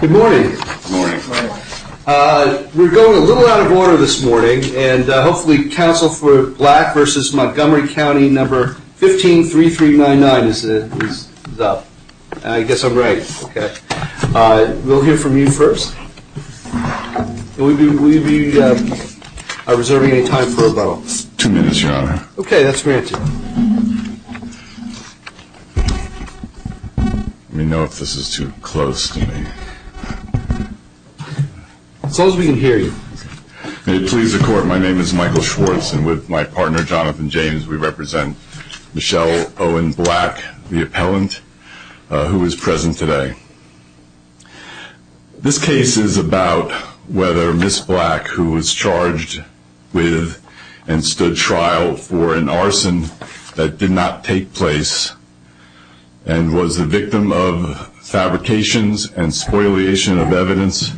Good morning. We're going a little out of order this morning, and hopefully Council for Black v. Montgomery County No. 153399 is up. I guess I'm right. We'll hear from you first. Are we reserving any time for rebuttals? Two minutes, Your Honor. Okay, that's granted. Let me know if this is too close to me. As close as we can hear you. May it please the Court, my name is Michael Schwartz, and with my partner, Jonathan James, we represent Michelle Owen Black, the appellant, who is present today. This case is about whether Ms. Black, who was charged with and stood trial for an arson that did not take place and was the victim of fabrications and spoliation of evidence,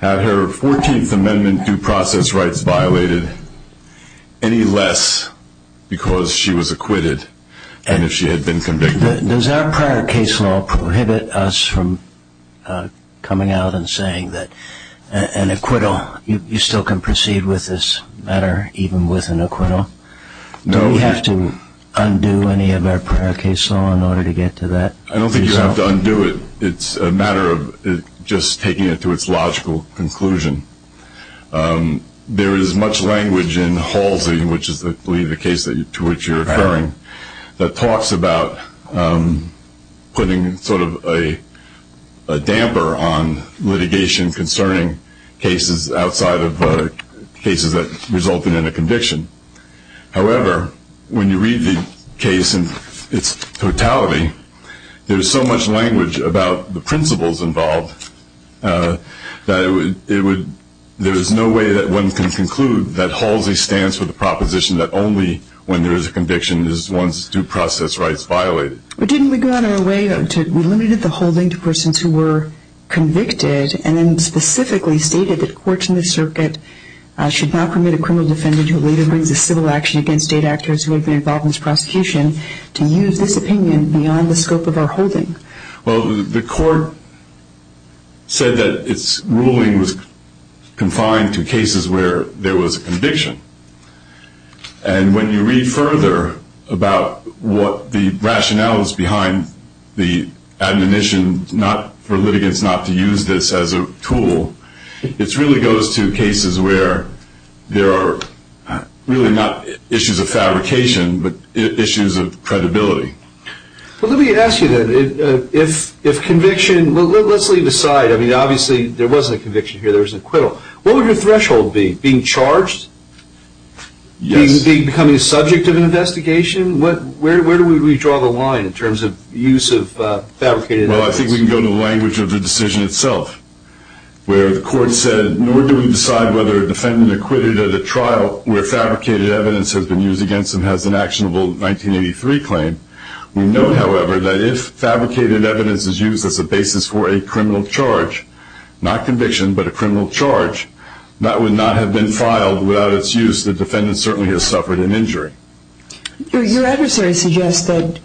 had her 14th Amendment due process rights violated any less because she was acquitted than if she had been convicted. Does our prior case law prohibit us from coming out and saying that an acquittal, you still can proceed with this matter even with an acquittal? No. Do we have to undo any of our prior case law in order to get to that? I don't think you have to undo it. It's a matter of just taking it to its logical conclusion. There is much language in Halsey, which is I believe the case to which you're referring, that talks about putting sort of a damper on litigation concerning cases outside of cases that resulted in a conviction. However, when you read the case in its totality, there is so much language about the principles involved that there is no way that one can conclude that Halsey stands for the proposition that only when there is a conviction is one's due process rights violated. But didn't we go out of our way, we limited the holding to persons who were convicted and then specifically stated that courts in the circuit should not permit a criminal defendant who later brings a civil action against state actors who have been involved in this prosecution to use this opinion beyond the scope of our holding? Well, the court said that its ruling was confined to cases where there was a conviction. And when you read further about what the rationale is behind the admonition for litigants not to use this as a tool, it really goes to cases where there are really not issues of fabrication but issues of credibility. Well, let me ask you then, if conviction, let's leave aside, I mean obviously there wasn't a conviction here, there was an acquittal, what would your threshold be? Being charged? Yes. Becoming a subject of an investigation? Where do we draw the line in terms of use of fabricated evidence? We note, however, that if fabricated evidence is used as a basis for a criminal charge, not conviction but a criminal charge, that would not have been filed without its use. The defendant certainly has suffered an injury. Your adversary suggests that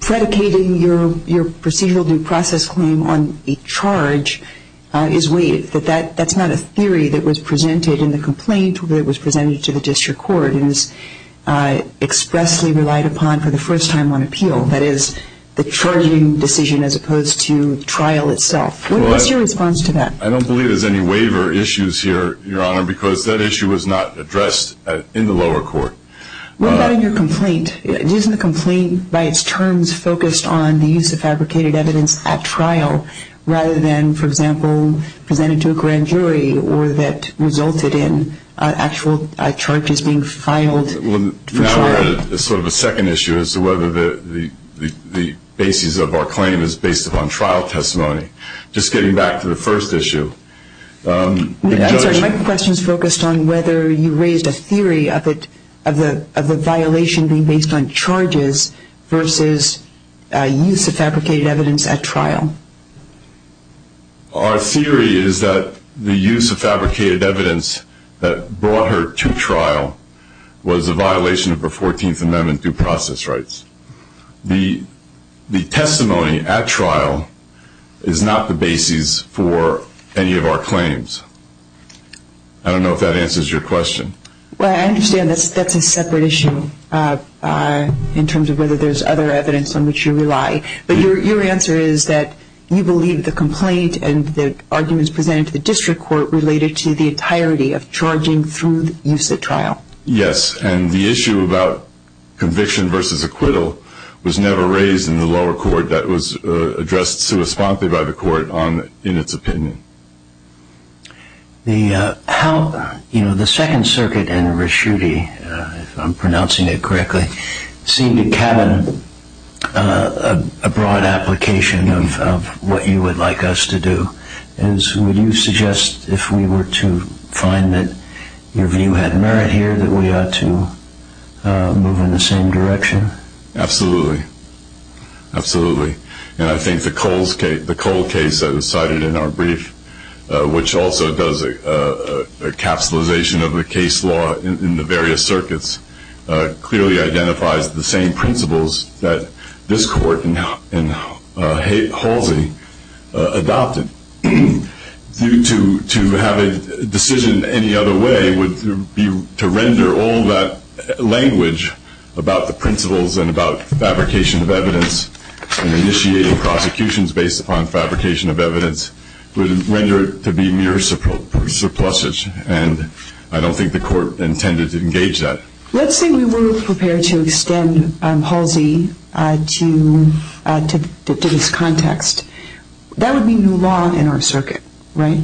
predicating your procedural due process claim on a charge is waived, that that's not a theory that was presented in the complaint that was presented to the district court and is expressly relied upon for the first time on appeal, that is, the charging decision as opposed to the trial itself. What's your response to that? I don't believe there's any waiver issues here, Your Honor, because that issue was not addressed in the lower court. What about in your complaint? Isn't the complaint by its terms focused on the use of fabricated evidence at trial rather than, for example, presented to a grand jury or that resulted in actual charges being filed for trial? Now we're at sort of a second issue as to whether the basis of our claim is based upon trial testimony. Just getting back to the first issue. My question is focused on whether you raised a theory of the violation being based on charges versus use of fabricated evidence at trial. Our theory is that the use of fabricated evidence that brought her to trial was a violation of the 14th Amendment due process rights. The testimony at trial is not the basis for any of our claims. I don't know if that answers your question. Well, I understand that's a separate issue in terms of whether there's other evidence on which you rely, but your answer is that you believe the complaint and the arguments presented to the district court related to the entirety of charging through the use at trial. Yes, and the issue about conviction versus acquittal was never raised in the lower court. That was addressed correspondingly by the court in its opinion. The Second Circuit and Rischutti, if I'm pronouncing it correctly, seem to cabin a broad application of what you would like us to do. Would you suggest if we were to find that your view had merit here that we ought to move in the same direction? Absolutely. And I think the Cole case that was cited in our brief, which also does a capsulization of the case law in the various circuits, clearly identifies the same principles that this court and Halsey adopted. I don't think the court intended to engage that. Let's say we were prepared to extend Halsey to this context. That would be new law in our circuit, right?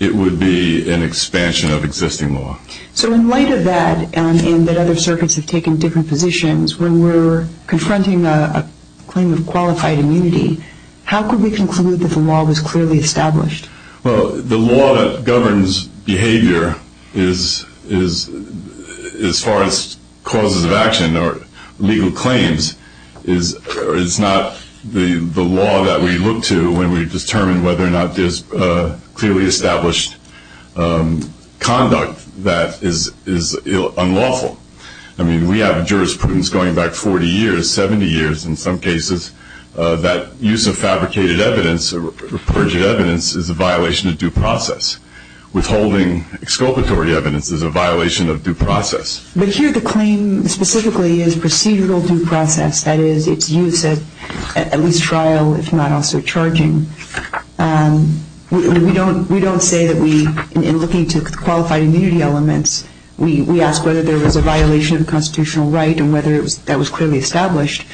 It would be an expansion of existing law. So in light of that, and that other circuits have taken different positions, when we're confronting a claim of qualified immunity, how could we conclude that the law was clearly established? Well, the law that governs behavior, as far as causes of action or legal claims, is not the law that we look to when we determine whether or not there's clearly established conduct that is unlawful. I mean, we have jurisprudence going back 40 years, 70 years, in some cases, that use of fabricated evidence or perjured evidence is a violation of due process. Withholding exculpatory evidence is a violation of due process. But here the claim specifically is procedural due process, that is, its use at least trial, if not also charging. We don't say that we, in looking to qualified immunity elements, we ask whether there was a violation of constitutional right and whether that was clearly established.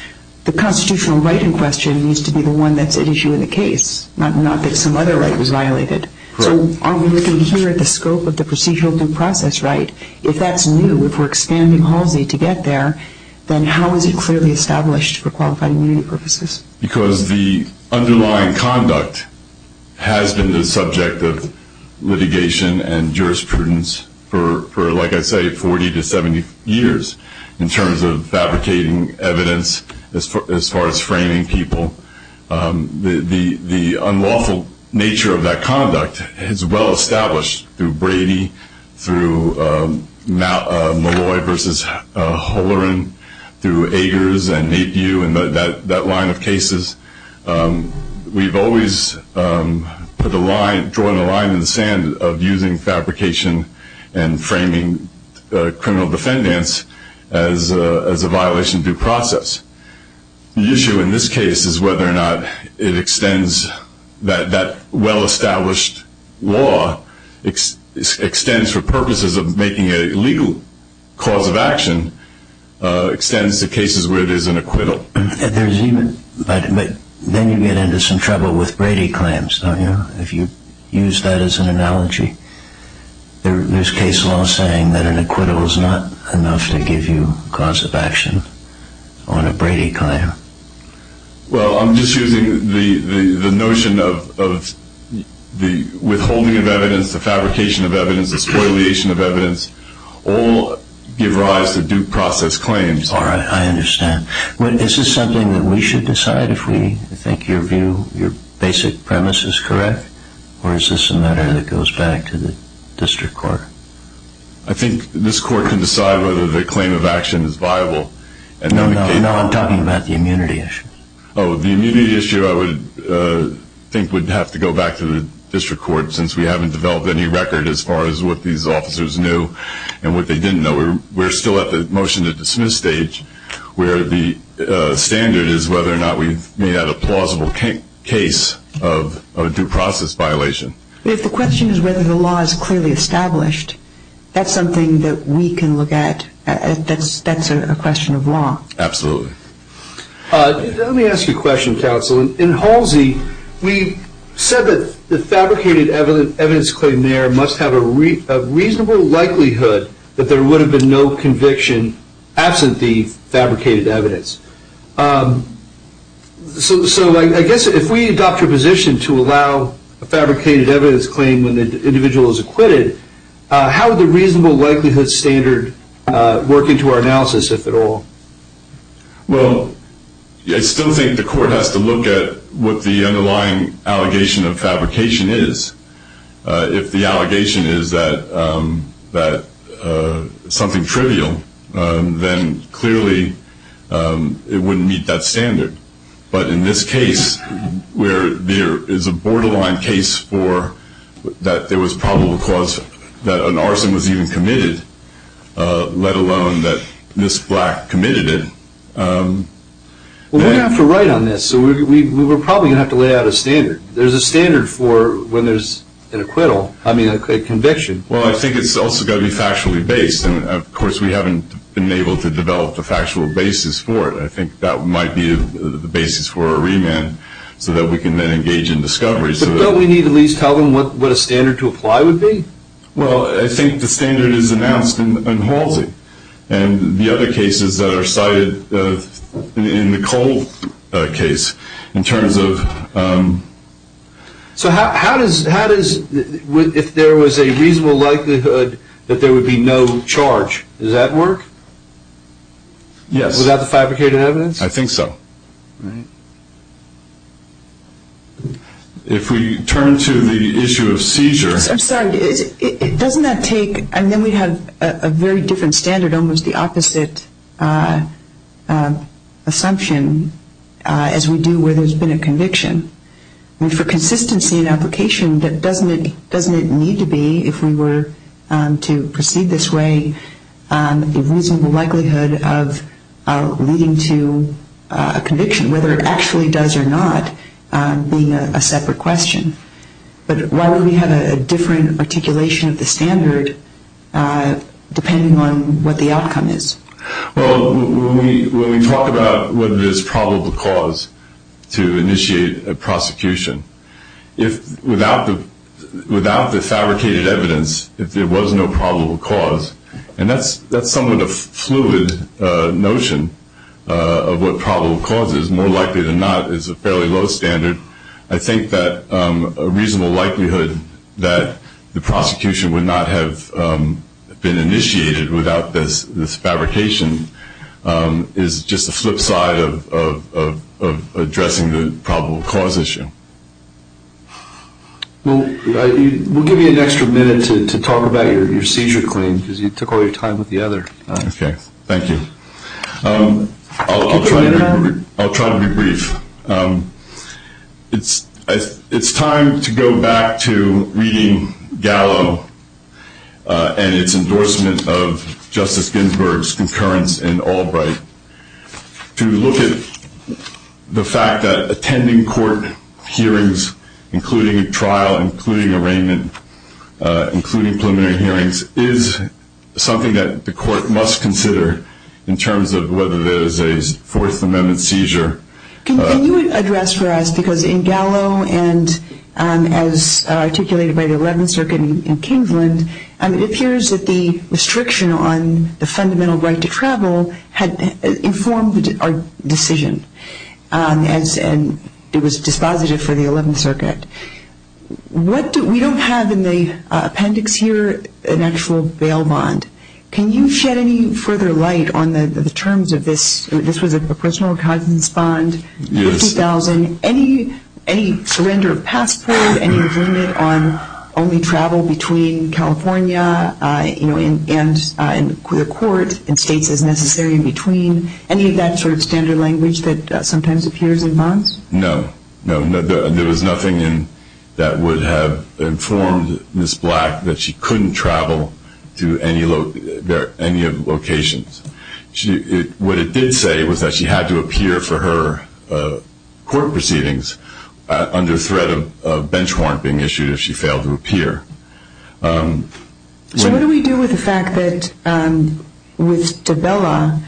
The constitutional right in question needs to be the one that's at issue in the case, not that some other right was violated. So are we looking here at the scope of the procedural due process right? If that's new, if we're expanding Halsey to get there, then how is it clearly established for qualified immunity purposes? Because the underlying conduct has been the subject of litigation and jurisprudence for, like I say, 40 to 70 years in terms of fabricating evidence as far as framing people. The unlawful nature of that conduct is well-established through Brady, through Malloy versus Holloran, through Agers and Napiew and that line of cases. We've always put a line, drawn a line in the sand of using fabrication and framing criminal defendants as a violation of due process. The issue in this case is whether or not it extends that well-established law, extends for purposes of making it a legal cause of action, extends to cases where it is an acquittal. But then you get into some trouble with Brady claims, don't you? If you use that as an analogy, there's case law saying that an acquittal is not enough to give you cause of action on a Brady claim. Well, I'm just using the notion of the withholding of evidence, the fabrication of evidence, the spoiliation of evidence all give rise to due process claims. I understand. Is this something that we should decide if we think your view, your basic premise is correct? Or is this a matter that goes back to the district court? I think this court can decide whether the claim of action is viable. No, I'm talking about the immunity issue. Oh, the immunity issue I would think would have to go back to the district court since we haven't developed any record as far as what these officers knew and what they didn't know. We're still at the motion to dismiss stage where the standard is whether or not we've made out a plausible case of a due process violation. If the question is whether the law is clearly established, that's something that we can look at. That's a question of law. Absolutely. Let me ask you a question, counsel. In Halsey, we said that the fabricated evidence claim there must have a reasonable likelihood that there would have been no conviction absent the fabricated evidence. So I guess if we adopt your position to allow a fabricated evidence claim when the individual is acquitted, how would the reasonable likelihood standard work into our analysis, if at all? Well, I still think the court has to look at what the underlying allegation of fabrication is. If the allegation is that something trivial, then clearly it wouldn't meet that standard. But in this case, where there is a borderline case for that there was probable cause that an arson was even committed, let alone that Ms. Black committed it. Well, we're going to have to write on this, so we're probably going to have to lay out a standard. There's a standard for when there's an acquittal, I mean a conviction. Well, I think it's also got to be factually based, and of course we haven't been able to develop a factual basis for it. I think that might be the basis for a remand, so that we can then engage in discovery. But don't we need to at least tell them what a standard to apply would be? Well, I think the standard is announced in Halsey, and the other cases that are cited in the Cole case, in terms of... So how does, if there was a reasonable likelihood that there would be no charge, does that work? Yes. Without the fabricated evidence? I think so. If we turn to the issue of seizure... I'm sorry, doesn't that take, and then we have a very different standard, almost the opposite assumption as we do where there's been a conviction. I mean, for consistency in application, doesn't it need to be, if we were to proceed this way, a reasonable likelihood of leading to a conviction, whether it actually does or not, being a separate question? But why would we have a different articulation of the standard, depending on what the outcome is? Well, when we talk about what is probable cause to initiate a prosecution, without the fabricated evidence, if there was no probable cause, and that's somewhat a fluid notion of what probable cause is. More likely than not, it's a fairly low standard. I think that a reasonable likelihood that the prosecution would not have been initiated without this fabrication is just the flip side of addressing the probable cause issue. We'll give you an extra minute to talk about your seizure claim, because you took all your time with the other. Okay, thank you. I'll try to be brief. It's time to go back to reading Gallo and its endorsement of Justice Ginsburg's concurrence in Albright to look at the fact that attending court hearings, including a trial, including arraignment, including preliminary hearings, is something that the court must consider in terms of whether there is a Fourth Amendment seizure. Can you address for us, because in Gallo and as articulated by the Eleventh Circuit in Kingsland, it appears that the restriction on the fundamental right to travel had informed our decision, and it was dispositive for the Eleventh Circuit. We don't have in the appendix here an actual bail bond. Can you shed any further light on the terms of this? This was a personal cousin's bond, $50,000. Any surrender of passport? Any agreement on only travel between California and the court in states as necessary in between? Any of that sort of standard language that sometimes appears in bonds? No. There was nothing that would have informed Ms. Black that she couldn't travel to any of the locations. What it did say was that she had to appear for her court proceedings under threat of bench warrant being issued if she failed to appear. So what do we do with the fact that with Dabella,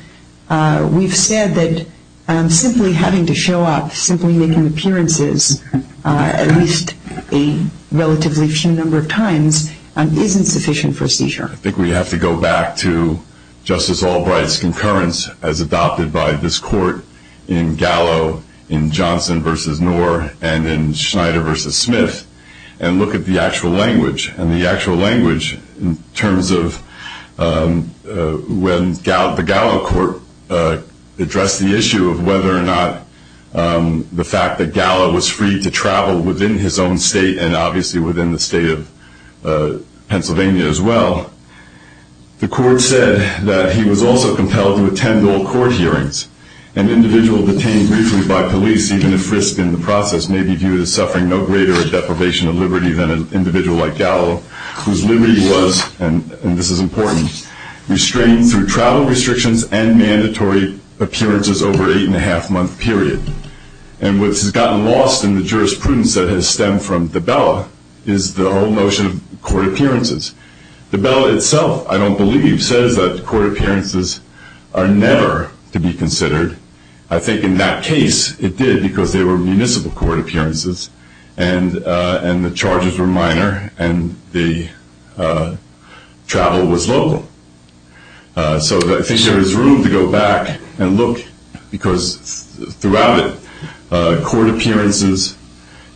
we've said that simply having to show up, simply making appearances at least a relatively few number of times, isn't sufficient for a seizure? I think we have to go back to Justice Albright's concurrence as adopted by this court in Gallo, in Johnson v. Knorr, and in Schneider v. Smith, and look at the actual language. And the actual language in terms of when the Gallo court addressed the issue of whether or not the fact that Gallo was free to travel within his own state, and obviously within the state of Pennsylvania as well, the court said that he was also compelled to attend all court hearings. An individual detained briefly by police, even if frisked in the process, may be viewed as suffering no greater deprivation of liberty than an individual like Gallo, whose liberty was, and this is important, restrained through travel restrictions and mandatory appearances over an eight-and-a-half-month period. And what has gotten lost in the jurisprudence that has stemmed from Dabella is the whole notion of court appearances. Dabella itself, I don't believe, says that court appearances are never to be considered. I think in that case, it did, because they were municipal court appearances, and the charges were minor, and the travel was local. So I think there is room to go back and look, because throughout it,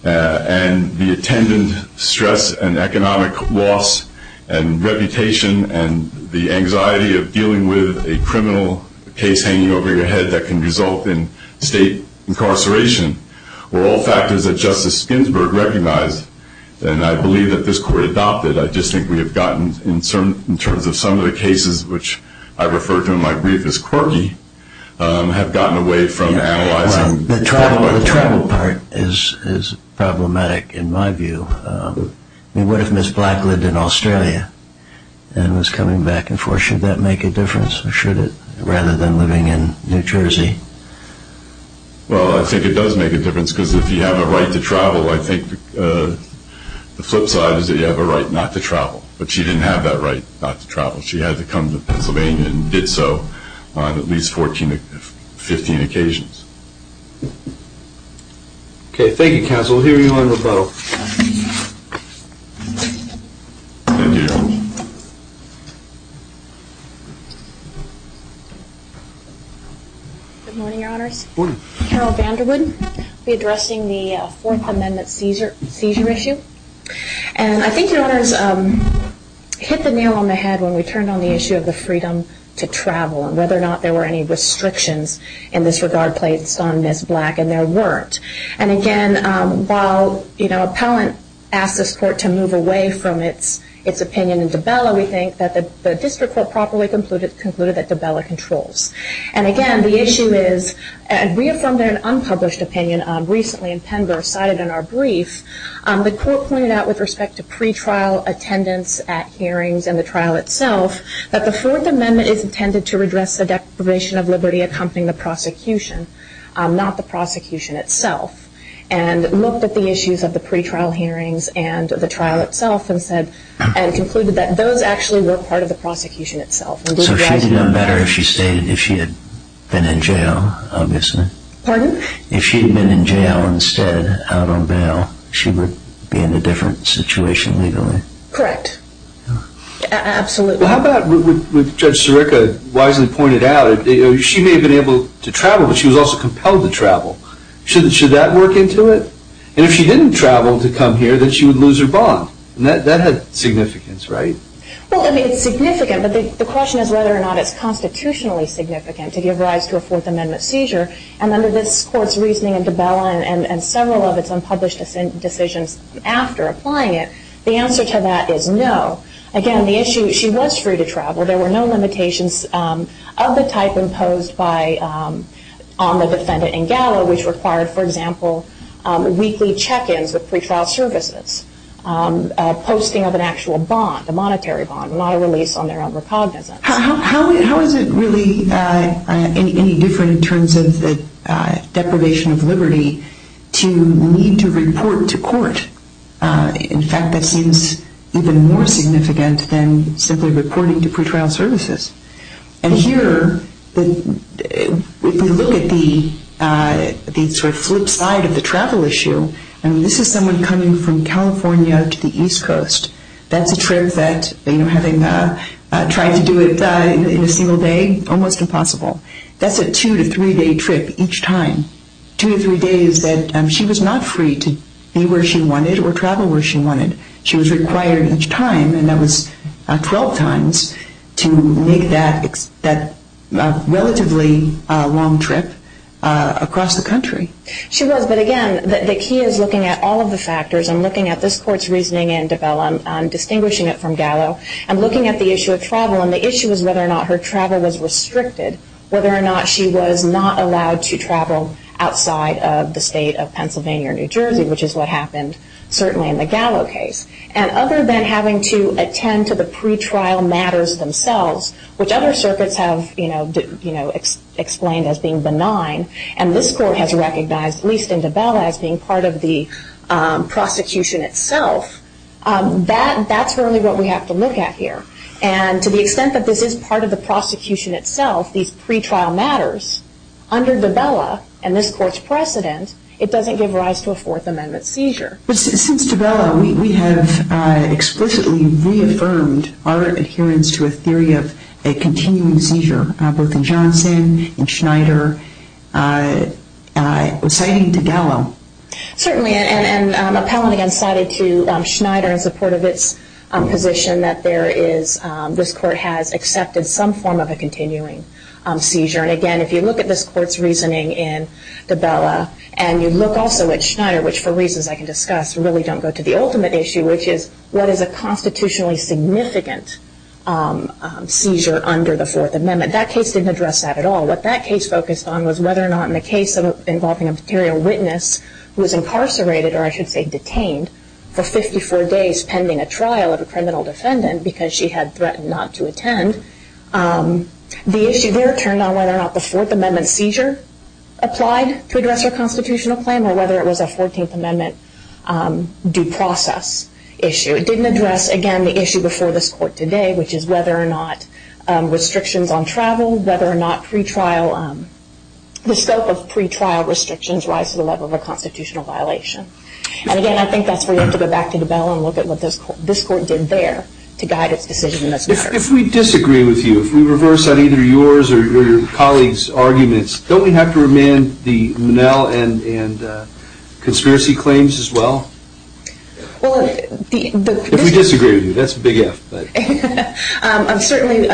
and the attendant stress and economic loss and reputation and the anxiety of dealing with a criminal case hanging over your head that can result in state incarceration were all factors that Justice Ginsburg recognized, and I believe that this court adopted. I just think we have gotten, in terms of some of the cases which I referred to in my brief as quirky, have gotten away from analyzing. The travel part is problematic, in my view. I mean, what if Ms. Black lived in Australia and was coming back and forth? Should that make a difference, or should it, rather than living in New Jersey? Well, I think it does make a difference, because if you have a right to travel, I think the flip side is that you have a right not to travel. But she didn't have that right not to travel. She had to come to Pennsylvania and did so on at least 14 or 15 occasions. Okay, thank you, counsel. We'll hear you on rebuttal. Thank you. Good morning, Your Honors. Good morning. Carol Vanderwood. I'll be addressing the Fourth Amendment seizure issue. And I think Your Honors hit the nail on the head when we turned on the issue of the freedom to travel and whether or not there were any restrictions in this regard placed on Ms. Black, and there weren't. And again, while Appellant asked this court to move away from its opinion in Dabella, we think that the district court properly concluded that Dabella controls. And again, the issue is, and we affirmed an unpublished opinion recently in Penber cited in our brief. The court pointed out with respect to pretrial attendance at hearings and the trial itself that the Fourth Amendment is intended to redress the Declaration of Liberty accompanying the prosecution, not the prosecution itself, and looked at the issues of the pretrial hearings and the trial itself and concluded that those actually were part of the prosecution itself. So she'd have done better if she stayed, if she had been in jail, obviously. Pardon? If she had been in jail instead, out on bail, she would be in a different situation legally. Correct. Absolutely. Well, how about what Judge Sirica wisely pointed out? She may have been able to travel, but she was also compelled to travel. Should that work into it? And if she didn't travel to come here, then she would lose her bond. That had significance, right? Well, I mean, it's significant, but the question is whether or not it's constitutionally significant to give rise to a Fourth Amendment seizure. And under this Court's reasoning and Debella and several of its unpublished decisions after applying it, the answer to that is no. Again, the issue is she was free to travel. There were no limitations of the type imposed on the defendant in Gallo, which required, for example, weekly check-ins with pretrial services, posting of an actual bond, a monetary bond, not a release on their own recognizance. How is it really any different in terms of the deprivation of liberty to need to report to court? In fact, that seems even more significant than simply reporting to pretrial services. And here, if we look at the sort of flip side of the travel issue, I mean, this is someone coming from California to the East Coast. That's a trip that, you know, having tried to do it in a single day, almost impossible. That's a two- to three-day trip each time. Two to three days that she was not free to be where she wanted or travel where she wanted. She was required each time, and that was 12 times, to make that relatively long trip across the country. She was, but again, the key is looking at all of the factors and looking at this court's reasoning in Dabella and distinguishing it from Gallo and looking at the issue of travel and the issue is whether or not her travel was restricted, whether or not she was not allowed to travel outside of the state of Pennsylvania or New Jersey, which is what happened certainly in the Gallo case. And other than having to attend to the pretrial matters themselves, which other circuits have, you know, explained as being benign, and this court has recognized, at least in Dabella, as being part of the prosecution itself, that's really what we have to look at here. And to the extent that this is part of the prosecution itself, these pretrial matters, under Dabella and this court's precedent, it doesn't give rise to a Fourth Amendment seizure. Since Dabella, we have explicitly reaffirmed our adherence to a theory of a continuing seizure, both in Johnson and Schneider, citing to Gallo. Certainly, and appellant again cited to Schneider in support of its position that there is, this court has accepted some form of a continuing seizure. And again, if you look at this court's reasoning in Dabella and you look also at Schneider, which for reasons I can discuss really don't go to the ultimate issue, which is what is a constitutionally significant seizure under the Fourth Amendment. That case didn't address that at all. What that case focused on was whether or not in the case involving a material witness who was incarcerated, or I should say detained, for 54 days pending a trial of a criminal defendant because she had threatened not to attend. The issue there turned on whether or not the Fourth Amendment seizure applied to address a constitutional claim or whether it was a Fourteenth Amendment due process issue. It didn't address, again, the issue before this court today, which is whether or not restrictions on travel, whether or not pre-trial, the scope of pre-trial restrictions rise to the level of a constitutional violation. And again, I think that's where you have to go back to Dabella and look at what this court did there to guide its decision in this matter. If we disagree with you, if we reverse either yours or your colleagues' arguments, don't we have to remand the Monell and conspiracy claims as well? If we disagree with you, that's a big F. Certainly,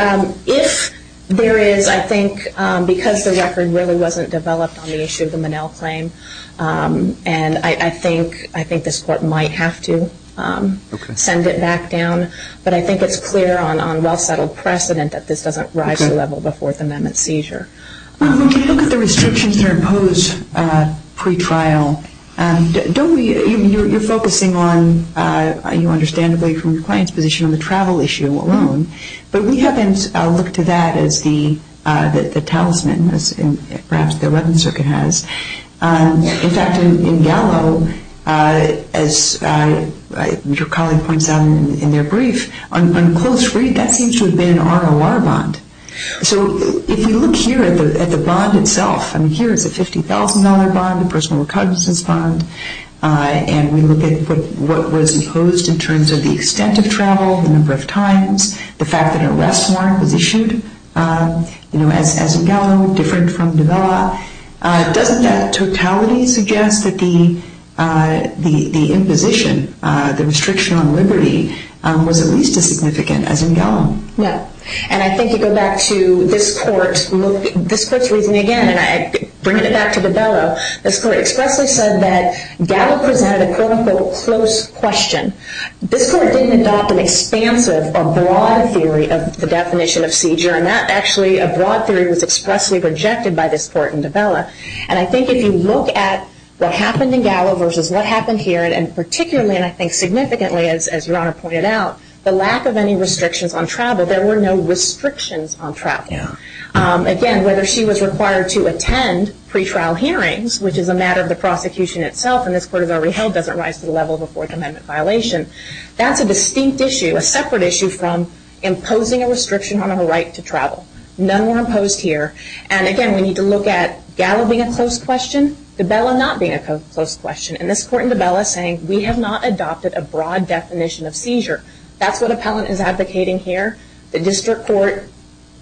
if there is, I think because the record really wasn't developed on the issue of the Monell claim, and I think this court might have to send it back down, but I think it's clear on well-settled precedent that this doesn't rise to the level of a Fourth Amendment seizure. When we look at the restrictions that are imposed pre-trial, you're focusing on, understandably from your client's position, on the travel issue alone, but we haven't looked to that as the talisman, as perhaps the Redmond Circuit has. In fact, in Gallo, as your colleague points out in their brief, on close read, that seems to have been an ROR bond. If you look here at the bond itself, here is a $50,000 bond, a personal recognizance bond, and we look at what was imposed in terms of the extent of travel, the number of times, the fact that an arrest warrant was issued, as in Gallo, different from Novella, doesn't that totality suggest that the imposition, the restriction on liberty, was at least as significant as in Gallo? No. And I think you go back to this Court's reasoning again, and I bring it back to Novella. This Court expressly said that Gallo presented a, quote, unquote, close question. This Court didn't adopt an expansive or broad theory of the definition of seizure, and that actually, a broad theory, was expressly rejected by this Court in Novella. And I think if you look at what happened in Gallo versus what happened here, and particularly, and I think significantly, as your Honor pointed out, the lack of any restrictions on travel, there were no restrictions on travel. Again, whether she was required to attend pretrial hearings, which is a matter of the prosecution itself, and this Court has already held doesn't rise to the level of a Fourth Amendment violation, that's a distinct issue, a separate issue from imposing a restriction on her right to travel. None were imposed here. And again, we need to look at Gallo being a close question, Novella not being a close question. And this Court in Novella is saying we have not adopted a broad definition of seizure. That's what appellant is advocating here. The District Court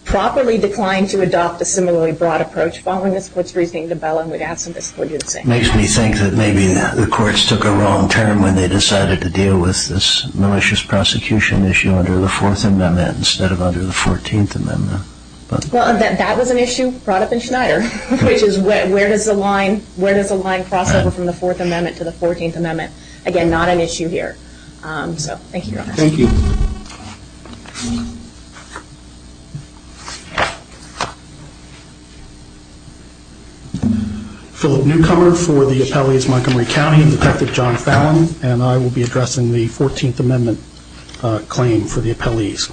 properly declined to adopt a similarly broad approach following this Court's reasoning in Novella, and we'd ask that this Court do the same. It makes me think that maybe the courts took a wrong turn when they decided to deal with this malicious prosecution issue under the Fourth Amendment instead of under the Fourteenth Amendment. Well, that was an issue brought up in Schneider, which is where does the line cross over from the Fourth Amendment to the Fourteenth Amendment? Again, not an issue here. So, thank you, Your Honor. Thank you. Philip Newcomer for the Appellate's Montgomery County. I'm Detective John Fallon, and I will be addressing the Fourteenth Amendment claim for the appellees.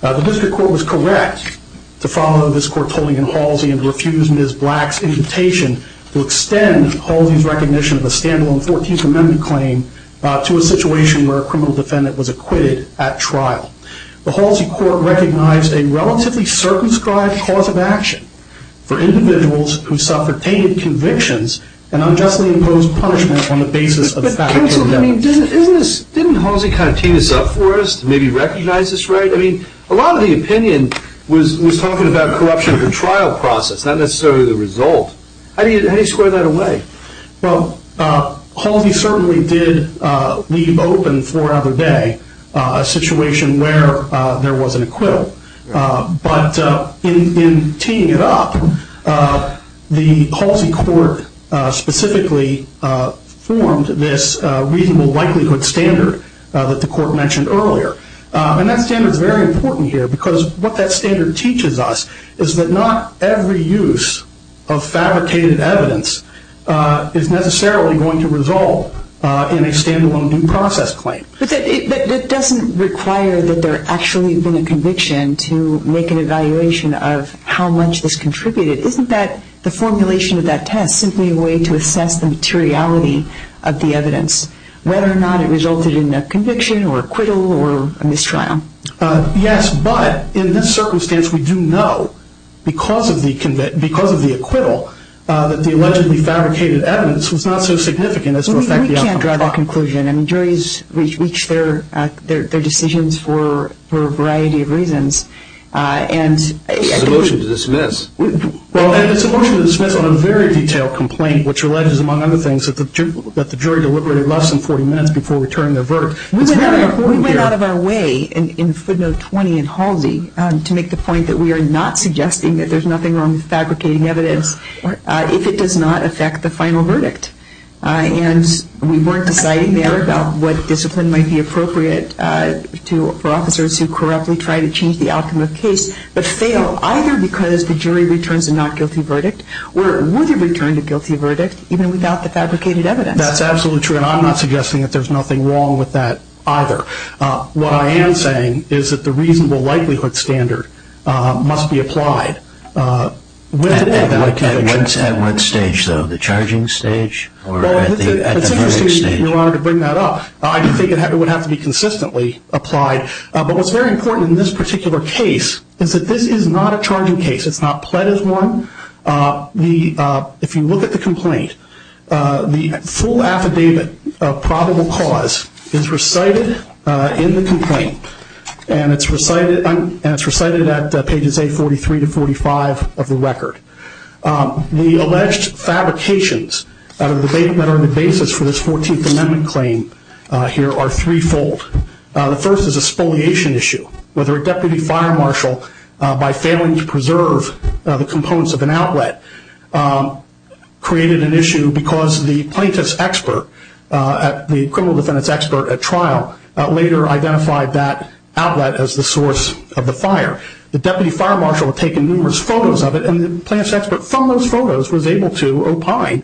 The District Court was correct to follow this Court's ruling in Halsey and to refuse Ms. Black's invitation to extend Halsey's recognition of a stand-alone Fourteenth Amendment claim to a situation where a criminal defendant was acquitted at trial. The Halsey Court recognized a relatively circumscribed cause of action for individuals who suffered tainted convictions and unjustly imposed punishment on the basis of factually indebted. Counsel, I mean, didn't Halsey kind of tee this up for us to maybe recognize this right? I mean, a lot of the opinion was talking about corruption at the trial process, not necessarily the result. How do you square that away? Well, Halsey certainly did leave open for another day a situation where there was an acquittal. But in teeing it up, the Halsey Court specifically formed this reasonable likelihood standard that the Court mentioned earlier. And that standard is very important here because what that standard teaches us is that not every use of fabricated evidence is necessarily going to resolve in a stand-alone due process claim. But that doesn't require that there actually have been a conviction to make an evaluation of how much this contributed. Isn't the formulation of that test simply a way to assess the materiality of the evidence, whether or not it resulted in a conviction or acquittal or a mistrial? Yes, but in this circumstance, we do know because of the acquittal that the allegedly fabricated evidence was not so significant as to affect the outcome of the trial. That's a dryball conclusion. I mean, juries reach their decisions for a variety of reasons. It's a motion to dismiss. Well, it's a motion to dismiss on a very detailed complaint, which alleges, among other things, that the jury deliberated less than 40 minutes before returning their verdict. We went out of our way in footnote 20 in Halsey to make the point that we are not suggesting that there's nothing wrong with fabricating evidence if it does not affect the final verdict. And we weren't deciding there about what discipline might be appropriate for officers who correctly try to change the outcome of a case but fail, either because the jury returns a not guilty verdict or it wouldn't return a guilty verdict even without the fabricated evidence. That's absolutely true, and I'm not suggesting that there's nothing wrong with that either. What I am saying is that the reasonable likelihood standard must be applied. At what stage, though? The charging stage? Well, it's interesting, Your Honor, to bring that up. I think it would have to be consistently applied. But what's very important in this particular case is that this is not a charging case. It's not pled as one. If you look at the complaint, the full affidavit of probable cause is recited in the complaint, and it's recited at pages A43 to 45 of the record. The alleged fabrications that are the basis for this 14th Amendment claim here are threefold. The first is a spoliation issue. Whether a deputy fire marshal, by failing to preserve the components of an outlet, created an issue because the plaintiff's expert, the criminal defendant's expert at trial, later identified that outlet as the source of the fire. The deputy fire marshal had taken numerous photos of it, and the plaintiff's expert from those photos was able to opine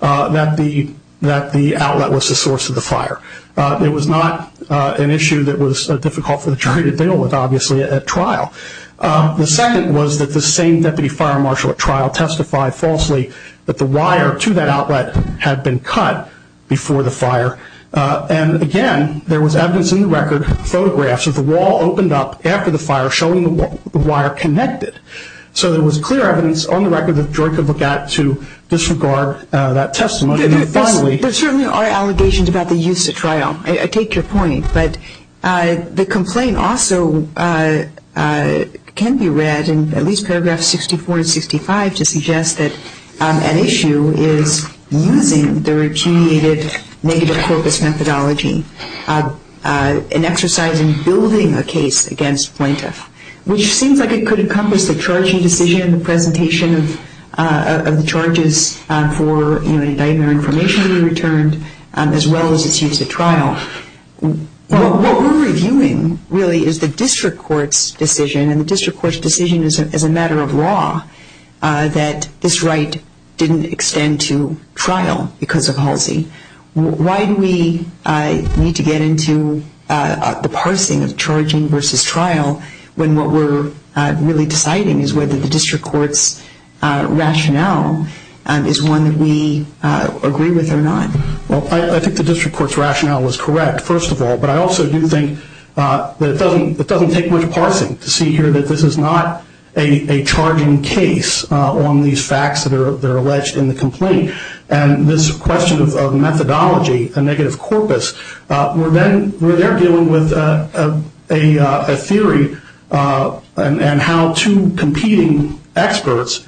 that the outlet was the source of the fire. It was not an issue that was difficult for the jury to deal with, obviously, at trial. The second was that the same deputy fire marshal at trial testified falsely that the wire to that outlet had been cut before the fire. And, again, there was evidence in the record, photographs of the wall opened up after the fire, showing the wire connected. So there was clear evidence on the record that the jury could look at to disregard that testimony. There certainly are allegations about the use at trial. I take your point, but the complaint also can be read in at least paragraphs 64 and 65 to suggest that an issue is using the repudiated negative corpus methodology, an exercise in building a case against plaintiff, which seems like it could encompass the charging decision, the presentation of the charges for indictment or information to be returned, as well as its use at trial. What we're reviewing, really, is the district court's decision, and the district court's decision is a matter of law that this right didn't extend to trial because of Halsey. Why do we need to get into the parsing of charging versus trial when what we're really deciding is whether the district court's rationale is one that we agree with or not? Well, I think the district court's rationale is correct, first of all, but I also do think that it doesn't take much parsing to see here that this is not a charging case on these facts that are alleged in the complaint, and this question of methodology, a negative corpus, where they're dealing with a theory and how two competing experts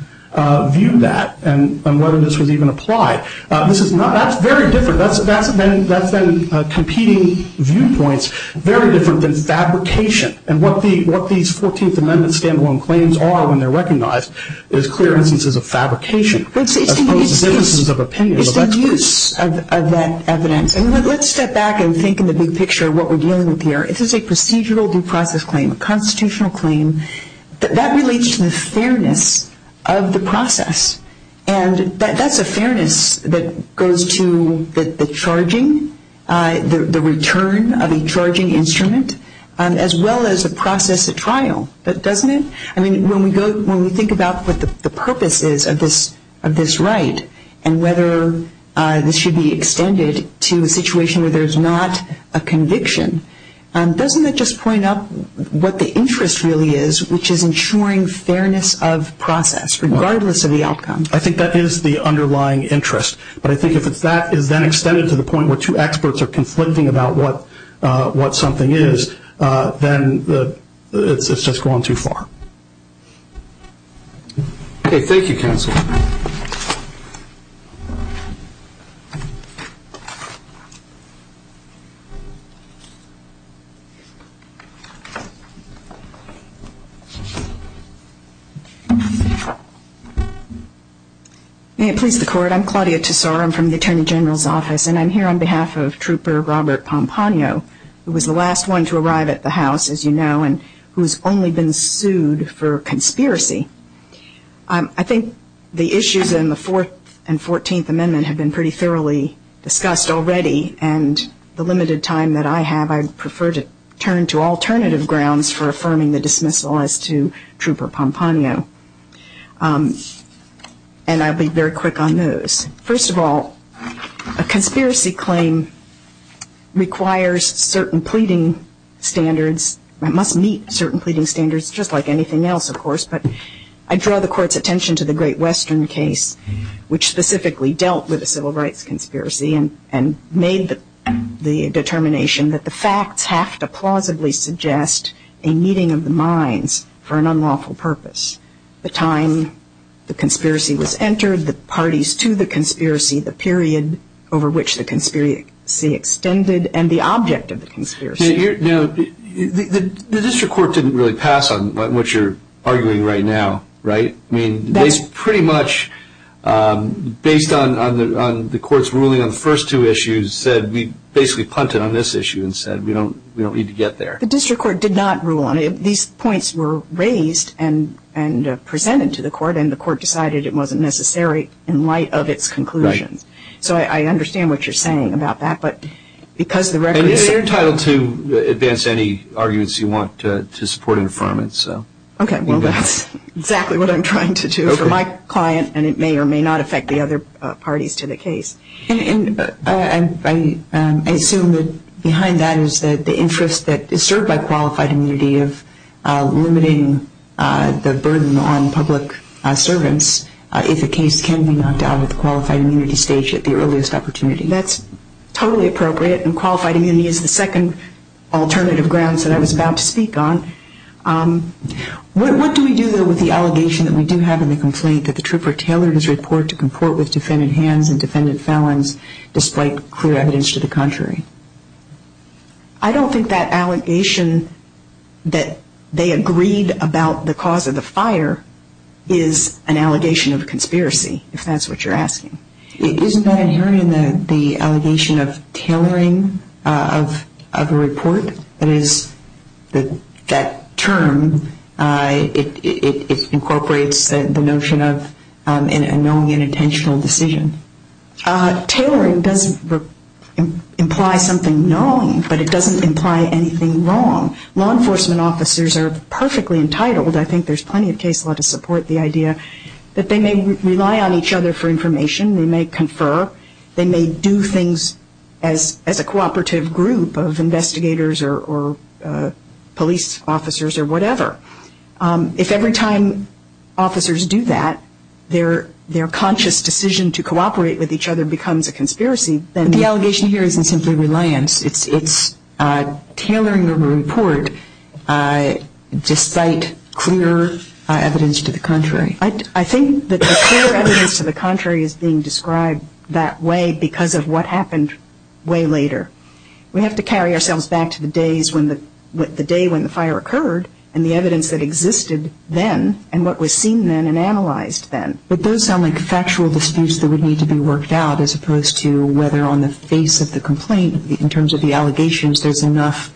view that and whether this was even applied. That's very different. That's then competing viewpoints, very different than fabrication, and what these 14th Amendment stand-alone claims are when they're recognized is clear instances of fabrication. It's the use of that evidence. Let's step back and think in the big picture of what we're dealing with here. This is a procedural due process claim, a constitutional claim. That relates to the fairness of the process, and that's a fairness that goes to the charging, the return of a charging instrument, as well as a process at trial, doesn't it? I mean, when we think about what the purpose is of this right and whether this should be extended to a situation where there's not a conviction, doesn't it just point out what the interest really is, which is ensuring fairness of process regardless of the outcome? I think that is the underlying interest, but I think if that is then extended to the point where two experts are conflicting about what something is, then it's just gone too far. Okay. May it please the Court. I'm Claudia Tesor. I'm from the Attorney General's Office, and I'm here on behalf of Trooper Robert Pomponio, who was the last one to arrive at the House, as you know, and who has only been sued for conspiracy. I think the issues in the Fourth and 14th Amendment have been pretty thoroughly discussed already, and the limited time that I have, to Trooper Pomponio, and I'll be very quick on those. First of all, a conspiracy claim requires certain pleading standards. It must meet certain pleading standards just like anything else, of course, but I draw the Court's attention to the Great Western case, which specifically dealt with a civil rights conspiracy and made the determination that the facts have to plausibly suggest a meeting of the minds for an unlawful purpose. The time the conspiracy was entered, the parties to the conspiracy, the period over which the conspiracy extended, and the object of the conspiracy. Now, the district court didn't really pass on what you're arguing right now, right? I mean, they pretty much, based on the Court's ruling on the first two issues, said we basically punted on this issue and said we don't need to get there. The district court did not rule on it. These points were raised and presented to the Court, and the Court decided it wasn't necessary in light of its conclusions. So I understand what you're saying about that, but because the records... And you're entitled to advance any arguments you want to support and affirm it. Okay, well, that's exactly what I'm trying to do for my client, and it may or may not affect the other parties to the case. And I assume that behind that is the interest that is served by qualified immunity of limiting the burden on public servants, if a case can be knocked out at the qualified immunity stage at the earliest opportunity. That's totally appropriate, and qualified immunity is the second alternative grounds that I was about to speak on. What do we do, though, with the allegation that we do have in the complaint that the trooper tailored his report to comport with defendant hands and defendant felons, despite clear evidence to the contrary? I don't think that allegation that they agreed about the cause of the fire is an allegation of conspiracy, if that's what you're asking. Isn't that inherent in the allegation of tailoring of a report? That is, that term, it incorporates the notion of a knowing and intentional decision. Tailoring does imply something knowing, but it doesn't imply anything wrong. Law enforcement officers are perfectly entitled, I think there's plenty of case law to support the idea, that they may rely on each other for information, they may confer, they may do things as a cooperative group of investigators or police officers or whatever. If every time officers do that, their conscious decision to cooperate with each other becomes a conspiracy, then the allegation here isn't simply reliance, it's tailoring the report to cite clear evidence to the contrary. I think that the clear evidence to the contrary is being described that way because of what happened way later. We have to carry ourselves back to the day when the fire occurred, and the evidence that existed then, and what was seen then and analyzed then. But those sound like factual disputes that would need to be worked out, as opposed to whether on the face of the complaint, in terms of the allegations, there's enough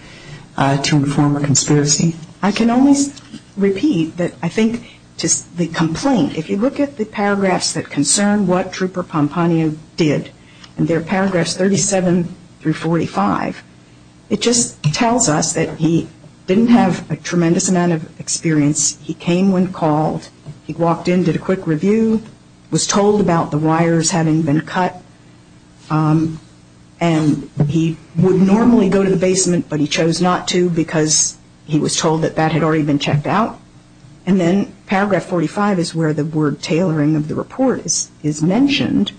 to inform a conspiracy. I can only repeat that I think just the complaint, if you look at the paragraphs that concern what Trooper Pompano did, and they're paragraphs 37 through 45, it just tells us that he didn't have a tremendous amount of experience, he came when called, he walked in, did a quick review, was told about the wires having been cut, and he would normally go to the basement but he chose not to because he was told that that had already been checked out. And then paragraph 45 is where the word tailoring of the report is mentioned,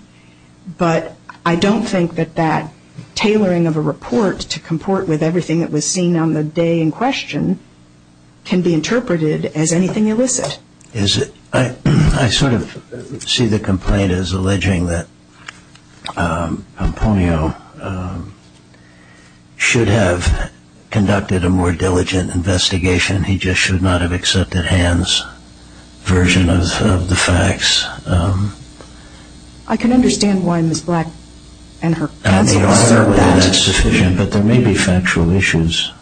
but I don't think that that tailoring of a report to comport with everything that was seen on the day in question can be interpreted as anything illicit. I sort of see the complaint as alleging that Pompano should have conducted a more diligent investigation, he just should not have accepted Han's version of the facts. I can understand why Ms. Black and her counsel assert that. I don't think that's sufficient, but there may be factual issues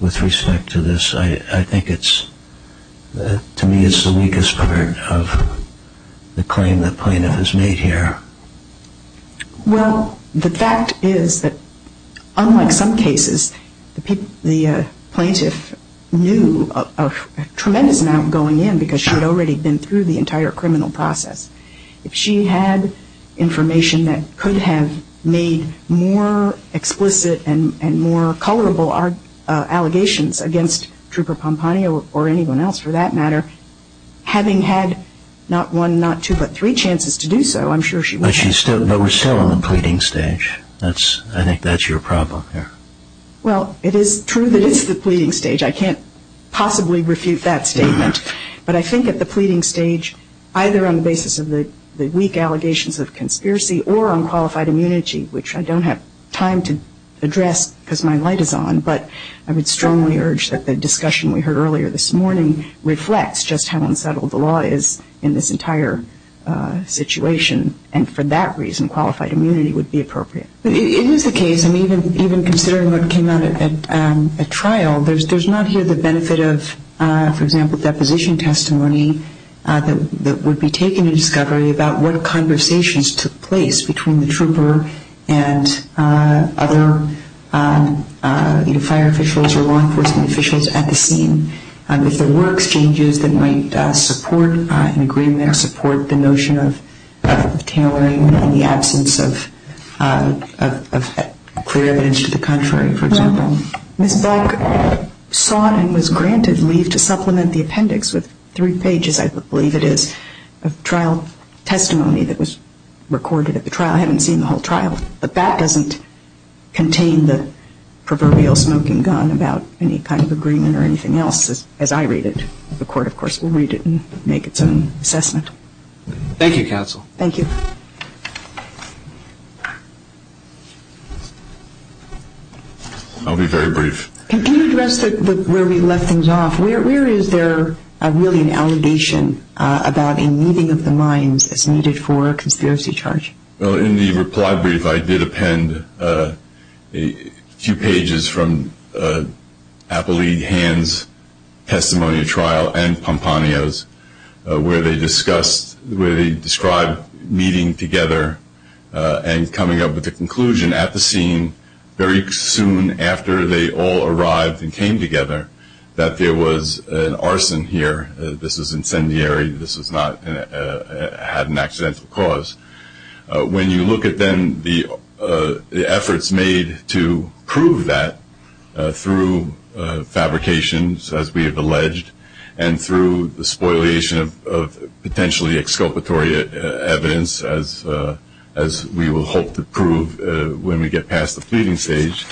with respect to this. I think it's, to me it's the weakest part of the claim the plaintiff has made here. Well, the fact is that unlike some cases, the plaintiff knew of a tremendous amount going in because she had already been through the entire criminal process. If she had information that could have made more explicit and more colorable allegations against Trooper Pompano or anyone else for that matter, having had not one, not two, but three chances to do so, I'm sure she would have. But we're still on the pleading stage. I think that's your problem here. Well, it is true that it's the pleading stage. I can't possibly refute that statement. But I think at the pleading stage, either on the basis of the weak allegations of conspiracy or on qualified immunity, which I don't have time to address because my light is on, but I would strongly urge that the discussion we heard earlier this morning reflects just how unsettled the law is in this entire situation. And for that reason, qualified immunity would be appropriate. It is the case, and even considering what came out at trial, there's not here the benefit of, for example, deposition testimony that would be taken in discovery about what conversations took place between the trooper and other fire officials or law enforcement officials at the scene. If there were exchanges that might support an agreement or support the notion of tailoring in the absence of clear evidence to the contrary, for example. Ms. Beck sought and was granted leave to supplement the appendix with three pages, I believe it is, of trial testimony that was recorded at the trial. I haven't seen the whole trial, but that doesn't contain the proverbial smoking gun about any kind of agreement or anything else, as I read it. The court, of course, will read it and make its own assessment. Thank you, counsel. Thank you. I'll be very brief. Can you address where we left things off? Where is there really an allegation about a meeting of the minds as needed for a conspiracy charge? Well, in the reply brief, I did append a few pages from Appellee Hand's testimony at trial where they described meeting together and coming up with a conclusion at the scene very soon after they all arrived and came together that there was an arson here. This was incendiary. This had an accidental cause. When you look at then the efforts made to prove that through fabrications, as we have alleged, and through the spoliation of potentially exculpatory evidence, as we will hope to prove when we get past the pleading stage,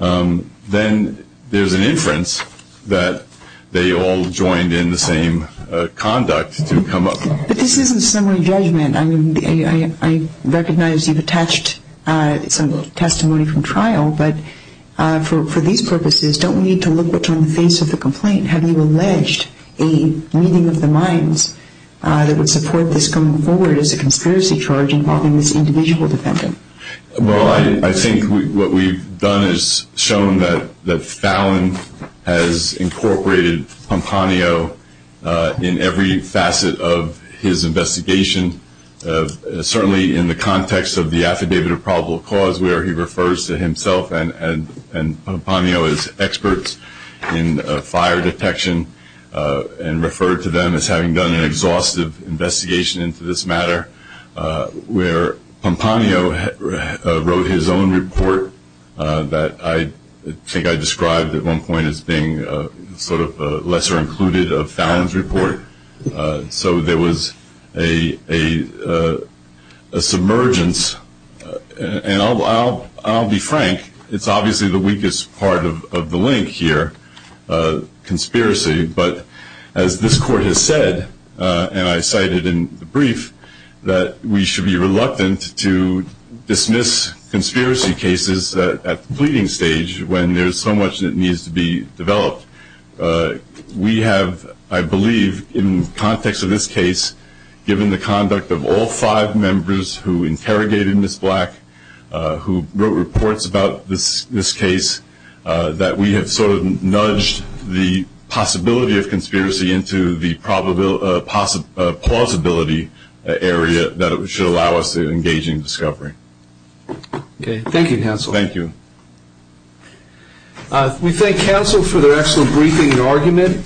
then there's an inference that they all joined in the same conduct to come up. But this isn't summary judgment. I recognize you've attached some testimony from trial, but for these purposes, don't we need to look what's on the face of the complaint? Have you alleged a meeting of the minds that would support this coming forward as a conspiracy charge involving this individual defendant? Well, I think what we've done is shown that Fallon has incorporated Pomponio in every facet of his investigation, certainly in the context of the affidavit of probable cause where he refers to himself and Pomponio as experts in fire detection and referred to them as having done an exhaustive investigation into this matter, where Pomponio wrote his own report that I think I described at one point as being sort of lesser included of Fallon's report. So there was a submergence. And I'll be frank. It's obviously the weakest part of the link here, conspiracy. But as this court has said, and I cited in the brief, that we should be reluctant to dismiss conspiracy cases at the pleading stage when there's so much that needs to be developed. We have, I believe, in the context of this case, given the conduct of all five members who interrogated Ms. Black, who wrote reports about this case, that we have sort of nudged the possibility of conspiracy into the plausibility area that should allow us to engage in discovery. Okay. Thank you, counsel. Thank you. We thank counsel for their excellent briefing and argument.